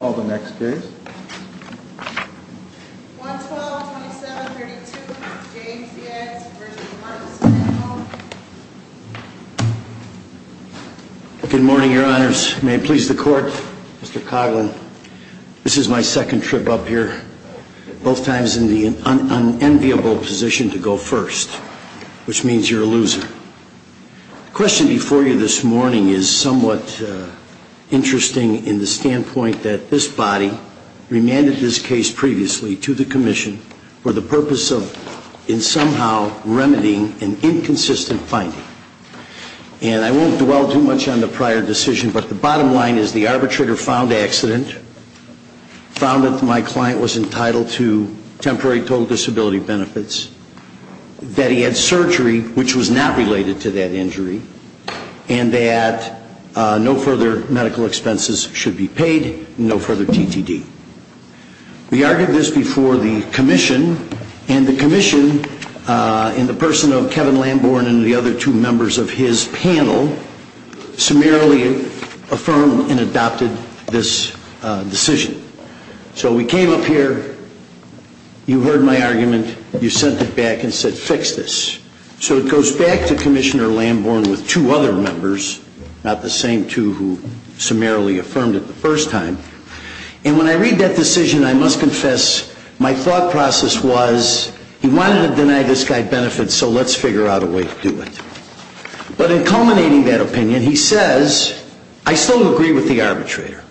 Good morning, your honors. May it please the court, Mr. Coughlin, this is my second trip up here, both times in the unenviable position to go first, which means you're a loser. The standpoint that this body remanded this case previously to the Commission for the purpose of in somehow remedying an inconsistent finding. And I won't dwell too much on the prior decision, but the bottom line is the arbitrator found accident, found that my client was entitled to temporary total disability benefits, that he had surgery which was not related to that medical expenses should be paid, no further TTD. We argued this before the Commission, and the Commission, in the person of Kevin Lambourne and the other two members of his panel, summarily affirmed and adopted this decision. So we came up here, you heard my argument, you sent it back and said, fix this. So it goes back to Commissioner Lambourne with two other members, not the same two who summarily affirmed it the first time. And when I read that decision, I must confess, my thought process was, he wanted to deny this guy benefits, so let's figure out a way to do it. But in culminating that opinion, he says, I still agree with the arbitrator.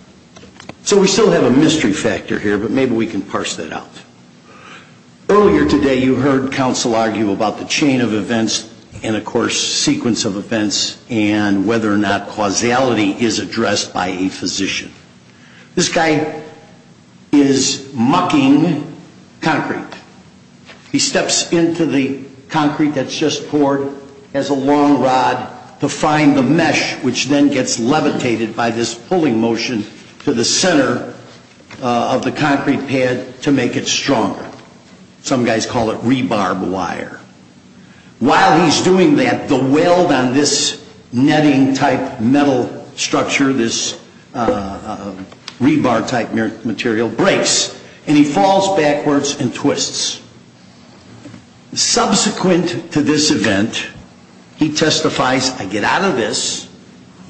So we still have a mystery factor here, but maybe we can parse that out. Earlier today, you heard counsel argue about the chain of defense and whether or not causality is addressed by a physician. This guy is mucking concrete. He steps into the concrete that's just poured, has a long rod to find the mesh which then gets levitated by this pulling motion to the center of the concrete pad to make it stronger. Some guys call it rebarb wire. While he's doing that, the weld on this netting type metal structure, this rebar type material, breaks. And he falls backwards and twists. Subsequent to this event, he testifies, I get out of this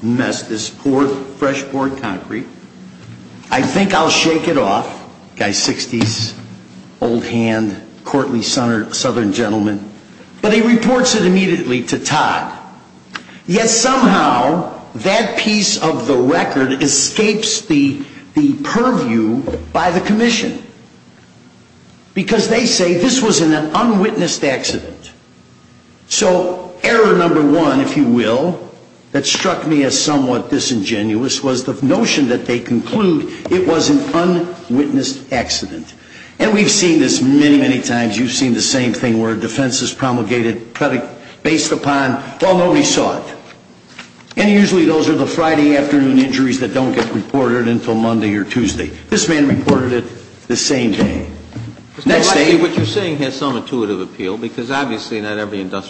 mess, this fresh poured concrete, I think I'll shake it off. Guy's 60s, old hand, courtly southern gentleman. But he reports it immediately to Todd. Yet somehow, that piece of the record escapes the purview by the commission. Because they say this was an unwitnessed accident. So error number one, if you will, that struck me as somewhat disingenuous was the notion that they conclude it was an unwitnessed accident. And we've seen this many, many times. You've seen the same thing where a defense is promulgated based upon, well, nobody saw it. And usually those are the Friday afternoon injuries that don't get reported until Monday or Tuesday. This man reported it the same day. Next day – Mr. Leiske, what you're saying has some intuitive appeal because obviously not every But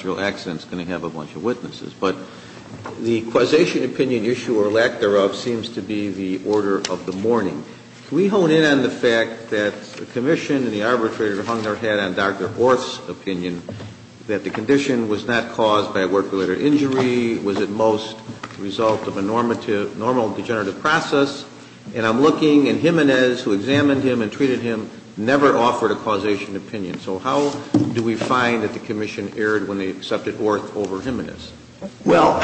the causation opinion issue, or lack thereof, seems to be the order of the morning. Can we hone in on the fact that the commission and the arbitrator hung their head on Dr. Orth's opinion that the condition was not caused by a work-related injury, was at most the result of a normal degenerative process? And I'm looking, and Jimenez, who examined him and treated him, never offered a causation opinion. So how do we find that the commission erred when they accepted Orth over Jimenez? Well,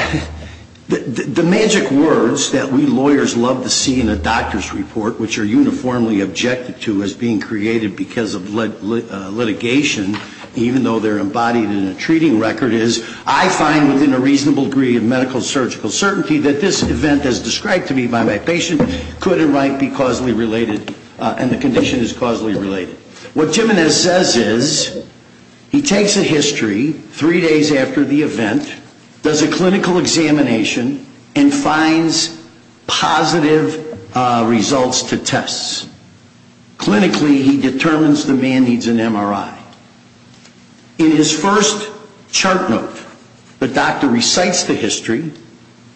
the magic words that we lawyers love to see in a doctor's report, which are uniformly objected to as being created because of litigation, even though they're embodied in a treating record, is, I find within a reasonable degree of medical surgical certainty that this event as described to me by my patient could or might be causally related and the condition is causally related. What Jimenez says is, he takes a history three days after the event does a clinical examination and finds positive results to tests. Clinically, he determines the man needs an MRI. In his first chart note, the doctor recites the history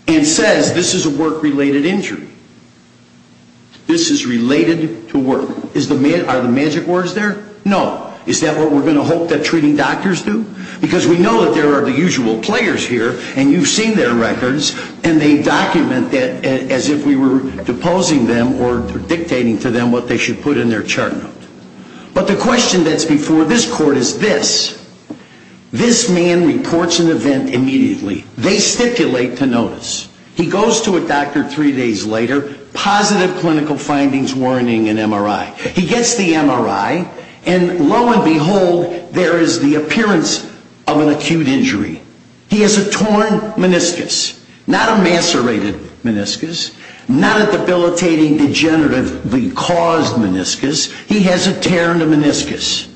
and says this is a work-related injury. This is related to work. Are the magic words there? No. Is that what we're going to hope that treating doctors do? Because we know that there are the usual players here and you've seen their records and they document it as if we were deposing them or dictating to them what they should put in their chart note. But the question that's before this court is this. This man reports an event immediately. They stipulate to notice. He goes to a doctor three days later, positive clinical findings, warning, and MRI. He gets the MRI and lo and behold, there is the appearance of an acute injury. He has a torn meniscus, not a macerated meniscus, not a debilitating degeneratively caused meniscus. He has a tear in the meniscus.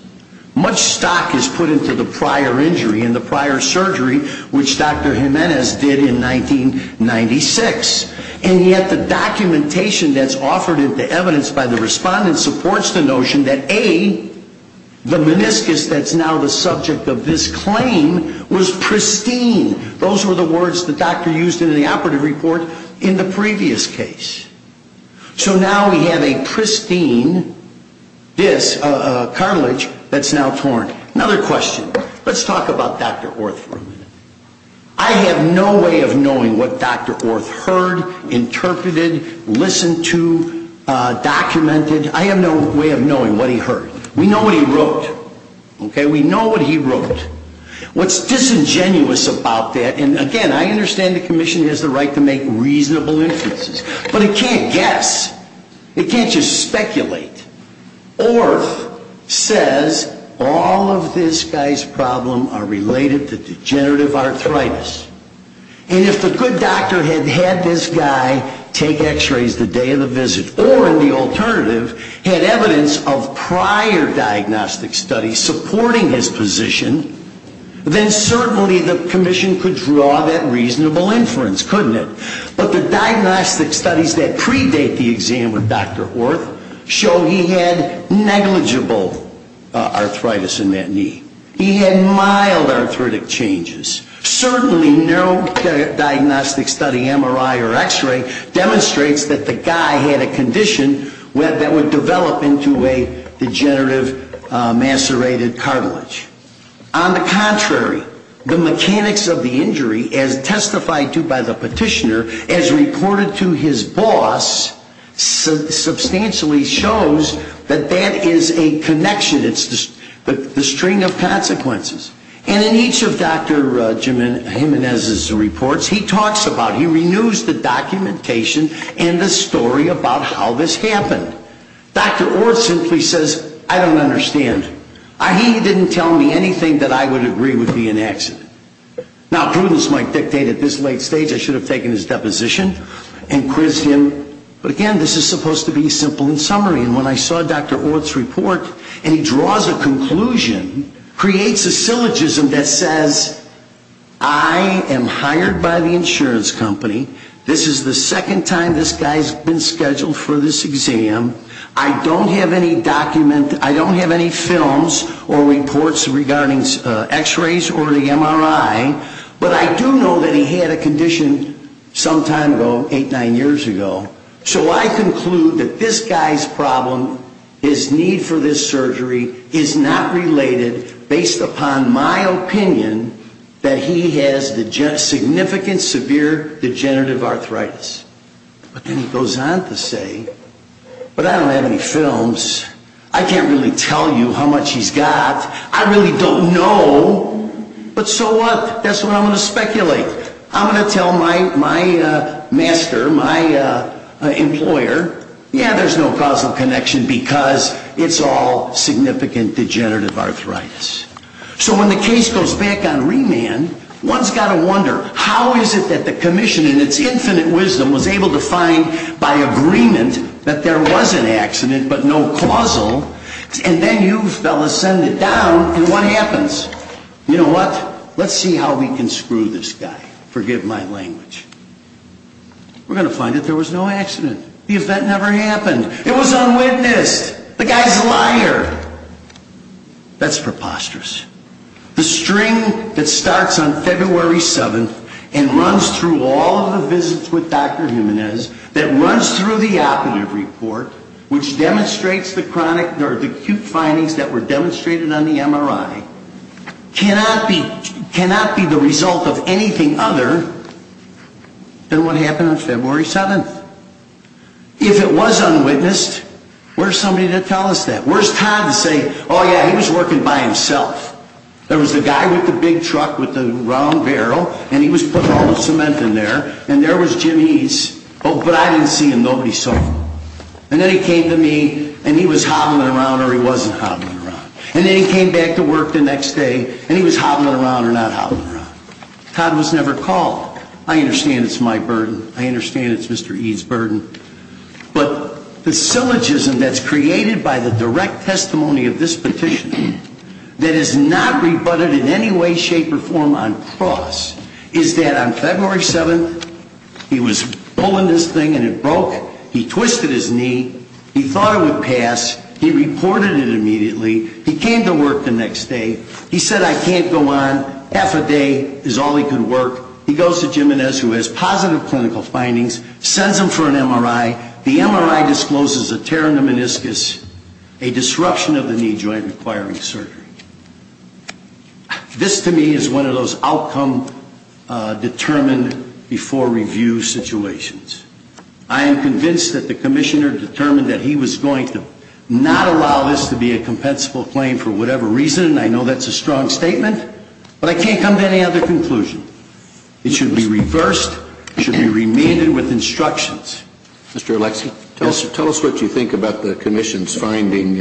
Much stock is put into the prior injury and the prior surgery, which Dr. Jimenez did in 1996. And yet the documentation that's offered into evidence by the respondents supports the notion that A, the meniscus that's now the subject of this claim was pristine. Those were the words the doctor used in the operative report in the previous case. So now we have a pristine cartilage that's now torn. Another question. Let's talk about Dr. Orth for a minute. I have no way of knowing what he heard. We know what he wrote. We know what he wrote. What's disingenuous about that, and again, I understand the commission has the right to make reasonable inferences, but it can't guess. It can't just speculate. Orth says all of this guy's problem are related to degenerative arthritis. And if the good doctor had had this guy take x-rays the day after the visit or, in the alternative, had evidence of prior diagnostic studies supporting his position, then certainly the commission could draw that reasonable inference, couldn't it? But the diagnostic studies that predate the exam with Dr. Orth show he had negligible arthritis in that knee. He had mild arthritic changes. Certainly no diagnostic study, MRI or x-ray, demonstrates that the guy had a condition that would develop into a degenerative macerated cartilage. On the contrary, the mechanics of the injury, as testified to by the petitioner, as reported to his boss, substantially shows that that is a connection. It's the string of consequences. And in each of Dr. Jimenez's reports, he talks about, he renews the documentation and the story about how this happened. Dr. Orth simply says, I don't understand. He didn't tell me anything that I would agree would be an accident. Now, prudence might dictate at this late stage I should have taken his deposition and quizzed him, but again, this is supposed to be simple in summary. And when I saw Dr. Orth's report and he draws a conclusion, creates a syllogism that says, I am hired by the insurance company this is the second time this guy's been scheduled for this exam. I don't have any document, I don't have any films or reports regarding x-rays or the MRI, but I do know that he had a condition some time ago, eight, nine years ago. So I conclude that this guy's problem, his need for this surgery, is not related based upon my opinion that he has significant severe degenerative arthritis. But then he goes on to say, but I don't have any films. I can't really tell you how much he's got. I really don't know. But so what? That's what I'm going to speculate. I'm going to tell my master, my employer, yeah, there's no causal connection because it's all significant degenerative arthritis. So when the case goes back on remand, one's got to wonder, how is it that the commission in its infinite wisdom was able to find by agreement that there was an accident but no causal, and then you fellas send it down and what happens? You know what? Let's see how we can screw this guy. Forgive my language. We're going to find that there was no accident. The event never happened. It was unwitnessed. The guy's a liar. That's preposterous. The string that starts on February 7th and runs through all of the visits with Dr. Jimenez, that runs through the operative report, which demonstrates the acute findings that were demonstrated on the MRI, cannot be the result of anything other than what happened on February 7th. If it was unwitnessed, where's somebody to tell us that? Where's Todd to say, oh yeah, he was working by himself. There was the guy with the big truck with the round barrel, and he was putting all the cement in there, and there was Jim Eades. Oh, but I didn't see him. Nobody saw him. And then he came to me and he was hobbling around or he wasn't hobbling around. And then he came back to work the next day and he was hobbling around or not hobbling around. Todd was never called. I understand it's my burden. I understand it's Mr. Eades' burden. But the syllogism that's created by the direct testimony of this petition that is not rebutted in any way, shape, or form on cross is that on February 7th, he was pulling this thing and it broke. He twisted his knee. He thought it would pass. He reported it immediately. He came to work the next day. He said, I can't go on. Half a day is all he could work. He goes to Jimenez, who has positive clinical findings, sends him for an MRI. The MRI discloses a tear in the meniscus, a disruption of the knee joint requiring surgery. This, to me, is one of those outcome-determined-before-review situations. I am convinced that the Commissioner determined that he was going to not allow this to be a compensable claim for whatever reason. I remained with instructions. Mr. Oleksii, tell us what you think about the Commission's finding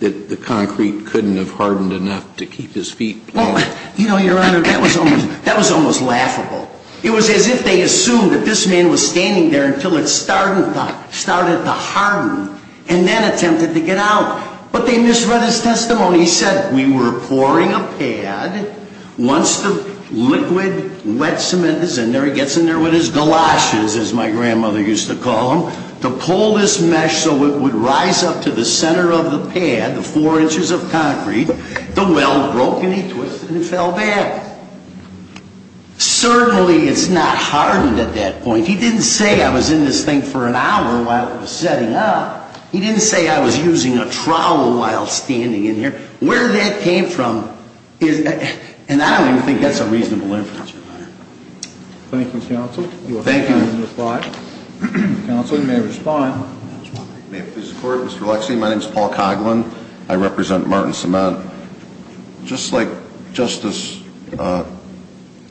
that the concrete couldn't have hardened enough to keep his feet plowing. Well, you know, Your Honor, that was almost laughable. It was as if they assumed that this man was standing there until it started to harden and then attempted to get out. But they misread his testimony. He said, we were pouring a pad. Once the liquid wet cement is in there, it gets in there with his galoshes, as my grandmother used to call them, to pull this mesh so it would rise up to the center of the pad, the four inches of concrete. The weld broke and he twisted and fell back. Certainly it's not hardened at that point. He didn't say I was in this thing for an hour while it was setting up. He didn't say I was using a trowel while standing in here. Where that came from is, and I don't even think that's a reasonable inference, Your Honor. Thank you, Counsel. Thank you. Counsel, you may respond. May it please the Court, Mr. Oleksii, my name is Paul Coghlan. I represent Martin Samant. Just like Justice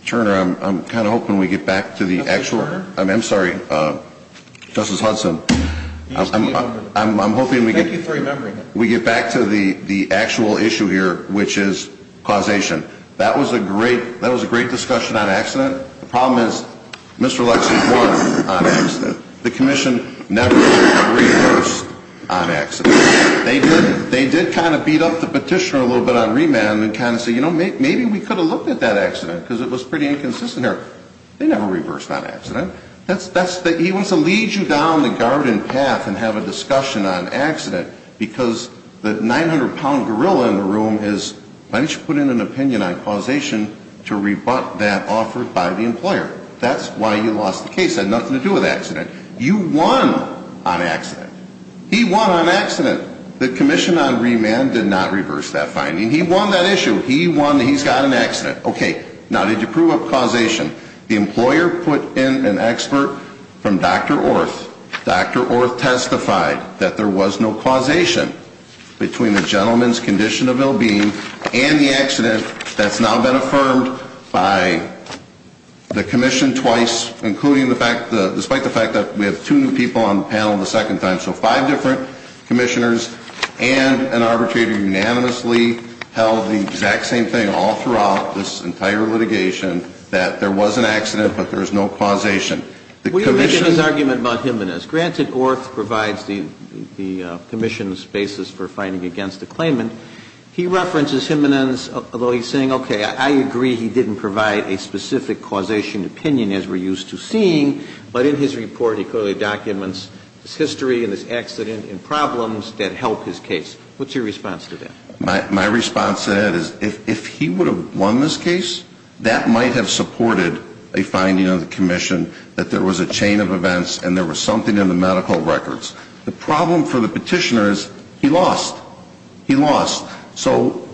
Turner, I'm kind of hoping we get back to the actual, I'm sorry, Justice Hudson. I'm hoping we get back to the actual issue here, which is causation. That was a great discussion on accident. The problem is Mr. Oleksii won on accident. The Commission never reversed on accident. They did kind of beat up the petitioner a little bit on remand and kind of say, you know, maybe we could have looked at that accident because it was pretty inconsistent there. They never reversed on accident. He wants to lead you down the garden path and have a discussion on accident because the 900-pound gorilla in the room is, why don't you put in an opinion on causation to rebut that offered by the employer. That's why you lost the case. It had nothing to do with accident. You won on accident. He won on accident. The Commission on remand did not reverse that finding. He won that issue. He won that he's got an accident. Okay. Now, did you prove a causation? The employer put in an expert from Dr. Orth. Dr. Orth testified that there was no causation between the gentleman's condition of ill-being and the accident that's now been affirmed by the Commission twice, including the fact, despite the fact that we have two new people on the panel the second time. So five different Commissioners and an arbitrator unanimously held the exact same thing all throughout this entire litigation, that there was an accident, but there was no causation. The Commission... against the claimant. He references him in his, although he's saying, okay, I agree he didn't provide a specific causation opinion as we're used to seeing, but in his report he clearly documents his history and his accident and problems that help his case. What's your response to that? My response to that is if he would have won this case, that might have supported a finding of the Commission that there was a chain of events and there was something in the medical records. The problem for the Petitioner is he lost. He lost. So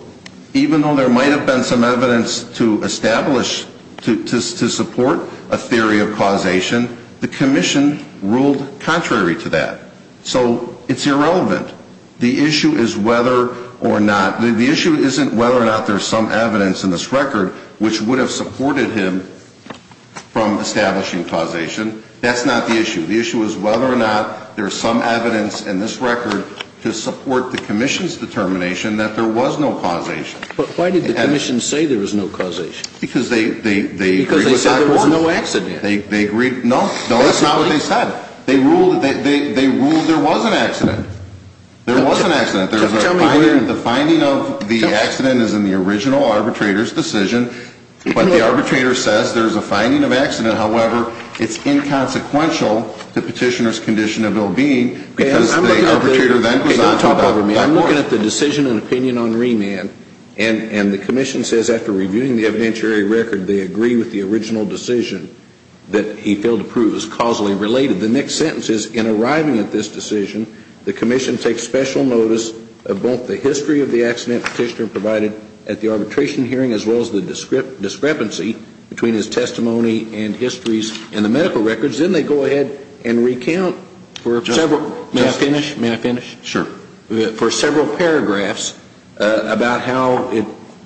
even though there might have been some evidence to establish, to support a theory of causation, the Commission ruled contrary to that. So it's irrelevant. The issue is whether or not... the issue isn't whether or not there's some evidence in this record which would have supported him from there's some evidence in this record to support the Commission's determination that there was no causation. But why did the Commission say there was no causation? Because they agreed with Dr. Gordon. Because they said there was no accident. No, that's not what they said. They ruled there was an accident. There was an accident. The finding of the accident is in the original arbitrator's decision, but the arbitrator says there's a finding of accident. However, it's inconsequential to Petitioner's condition of well-being because the arbitrator then does not talk about that point. I'm looking at the decision and opinion on remand, and the Commission says after reviewing the evidentiary record they agree with the original decision that he failed to prove is causally related. The next sentence is, in arriving at this decision, the Commission takes special notice of both the history of the accident Petitioner provided at the arbitration hearing as well as the discrepancy between his testimony and histories in the medical records. Then they go ahead and recount for several paragraphs about how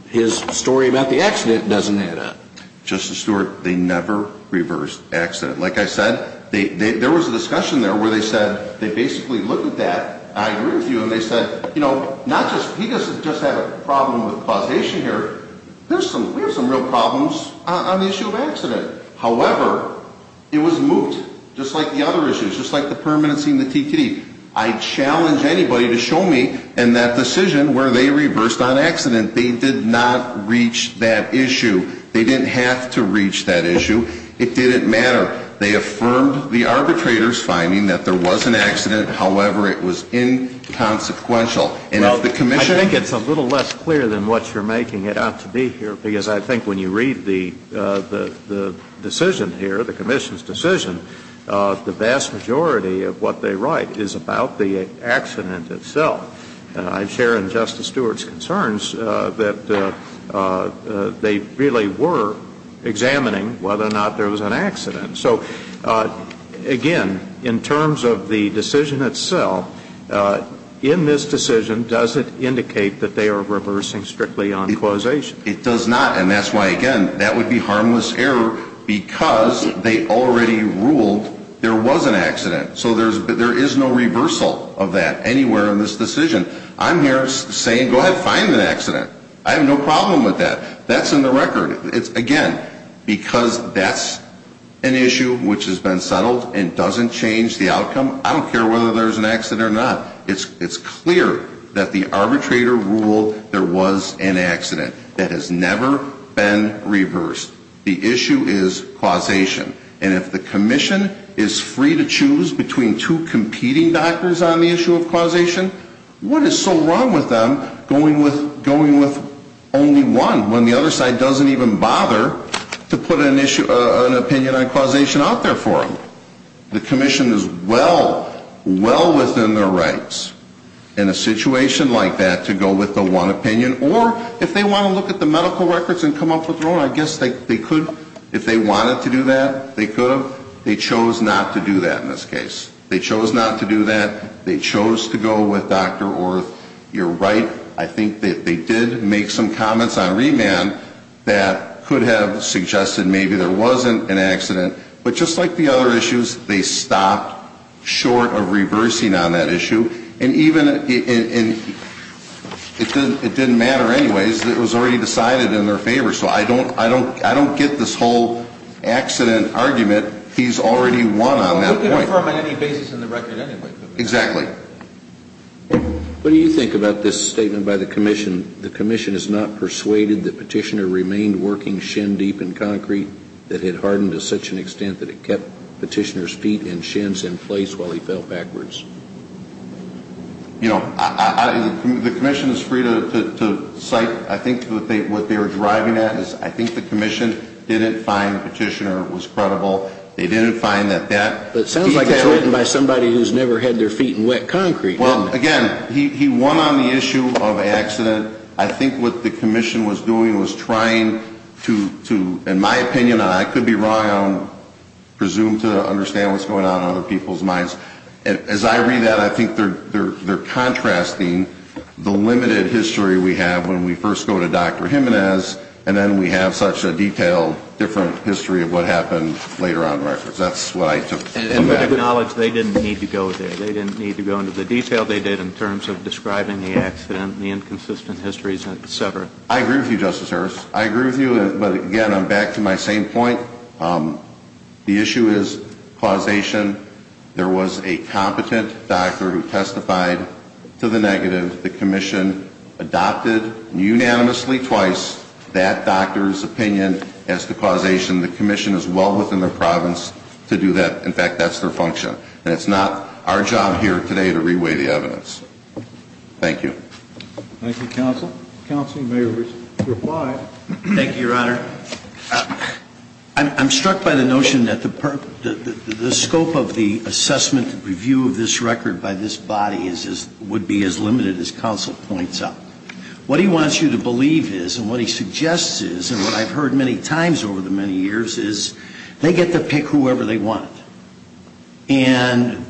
his story about the accident doesn't add up. Justice Stewart, they never reversed accident. Like I said, there was a discussion there where they said they basically looked at that, I agree with you, and they said, you know, he doesn't just have a problem with causation here. We have some real problems on the issue of accident. However, it was moot, just like the other issues, just like the permanency and the TTD. I challenge anybody to show me in that decision where they reversed on accident, they did not reach that issue. They didn't have to reach that issue. It didn't matter. They affirmed the arbitrator's finding that there was an accident, however, it was inconsequential. And if the Commission Well, I think it's a little less clear than what you're making it out to be here because I think when you read the decision here, the Commission's decision, the vast majority of what they write is about the accident itself. I share in Justice Stewart's concerns that they really were examining whether or not there was an accident. So, again, in terms of the decision itself, in this decision, does it indicate that they are reversing strictly on causation? It does not. And that's why, again, that would be harmless error because they already ruled there was an accident. So there is no reversal of that anywhere in this decision. I'm here saying go ahead, find the accident. I have no problem with that. That's in the record. Again, because that's an issue which has been settled and doesn't change the outcome, I don't care whether there's an accident or not. It's clear that the issue has never been reversed. The issue is causation. And if the Commission is free to choose between two competing doctors on the issue of causation, what is so wrong with them going with only one when the other side doesn't even bother to put an opinion on causation out there for them? The Commission is well, well within their authority to do that. So, again, I'm here saying go ahead, find the accident. I have no problem with that. Again, because that's an issue which has been settled and doesn't change the outcome, I'm here saying go ahead, find the accident. And if the Commission is free to choose between two competing doctors on the issue of causation, what is so wrong with them going with only one when the other side doesn't even bother to put an opinion on causation out there for them? And again, because that's an issue which has been settled and doesn't change the outcome, I'm here saying go ahead, find the accident. Again, because that's an issue which has been settled and doesn't change the outcome, I'm here saying go ahead, find the accident. Again, because that's an issue which has been settled and doesn't change the outcome, I'm here saying go ahead, find the accident. And then we have such a detailed, different history of what happened later on in records. That's what I took from that. And acknowledge they didn't need to go there. They didn't need to go into the detail they did in terms of describing the accident, the inconsistent histories, and so forth. I agree with you, Justice Hearst. I agree with you, but again, I'm back to my same point. The issue is causation. There was a competent doctor who testified to the negative. The commission adopted unanimously twice that doctor's opinion as to causation. The commission is well within their province to do that. In fact, that's their function. And it's not our job here today to reweigh the evidence. Thank you. Thank you, Counsel. Counsel, you may reply. Thank you, Your Honor. I'm struck by the notion that the scope of the assessment and review of this record by this body would be as limited as Counsel points out. What he wants you to believe is and what he suggests is and what I've heard many times over the many years is they get to pick whoever they want. And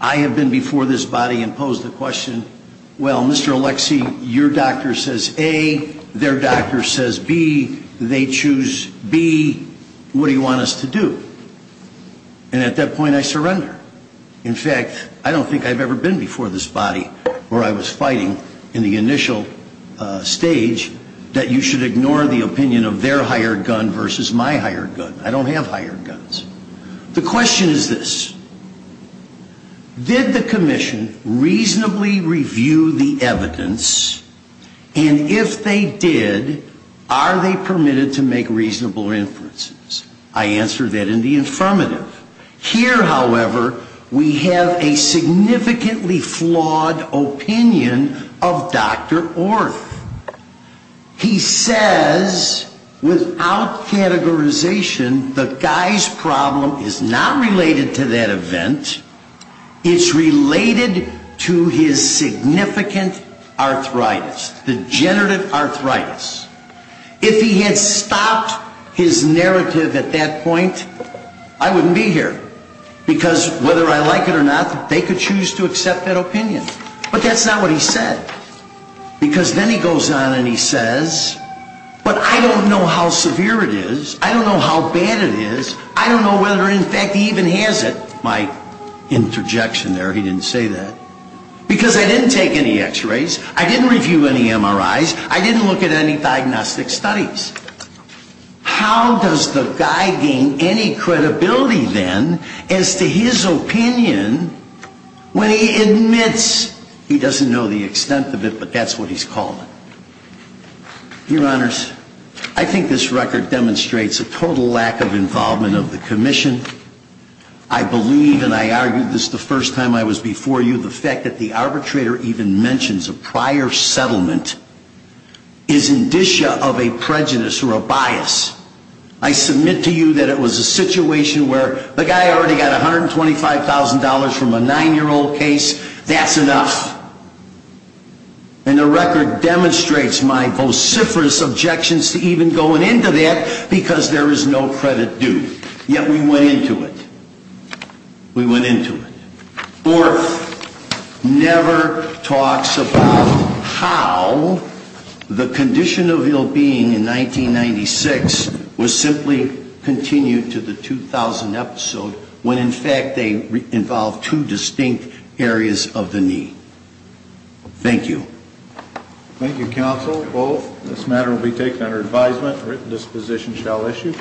I have been before this body and posed the question, well, Mr. Alexi, your doctor says A, their doctor says B, they choose B, what do you want us to do? And at that point, I surrender. In fact, I don't think I've ever been before this body where I was fighting in the initial stage that you should ignore the opinion of their hired gun versus my hired gun. I don't have hired guns. The question is this. Did the commission reasonably review the evidence? And if they did, are they permitted to make reasonable inferences? I answer that in the affirmative. Here, however, we have a significantly flawed opinion of Dr. Orth. He says without categorization the guy's problem is not related to that event. It's related to his significant arthritis, degenerative arthritis. If he had stopped his narrative at that point, I wouldn't be here because whether I like it or not, they could choose to accept that opinion. But that's not what he said because then he goes on and he says, but I don't know how severe it is. I don't know how bad it is. I don't know whether in fact he even has it. My interjection there, he didn't say that. Because I didn't take any x-rays. I didn't review any MRIs. I didn't look at any diagnostic studies. How does the guy gain any credibility then as to his opinion when he admits he doesn't know the extent of it, but that's what he's called? Your Honors, I think this record demonstrates a total lack of involvement of the commission. I believe, and I argued this the first time I was before you, the fact that the arbitrator even mentions a prior settlement is indicia of a prejudice or a bias. I submit to you that it was a situation where the guy already got $125,000 from a 9-year-old case. That's enough. And the record demonstrates my vociferous objections to even going into that because there is no credit due. Yet we went into it. We went into it. Orff never talks about how the condition of ill-being in 1996 was simply continued to the 2000 episode when, in fact, they involved two distinct areas of the knee. Thank you. Thank you, Counsel. This matter will be taken under advisement. Written disposition shall issue.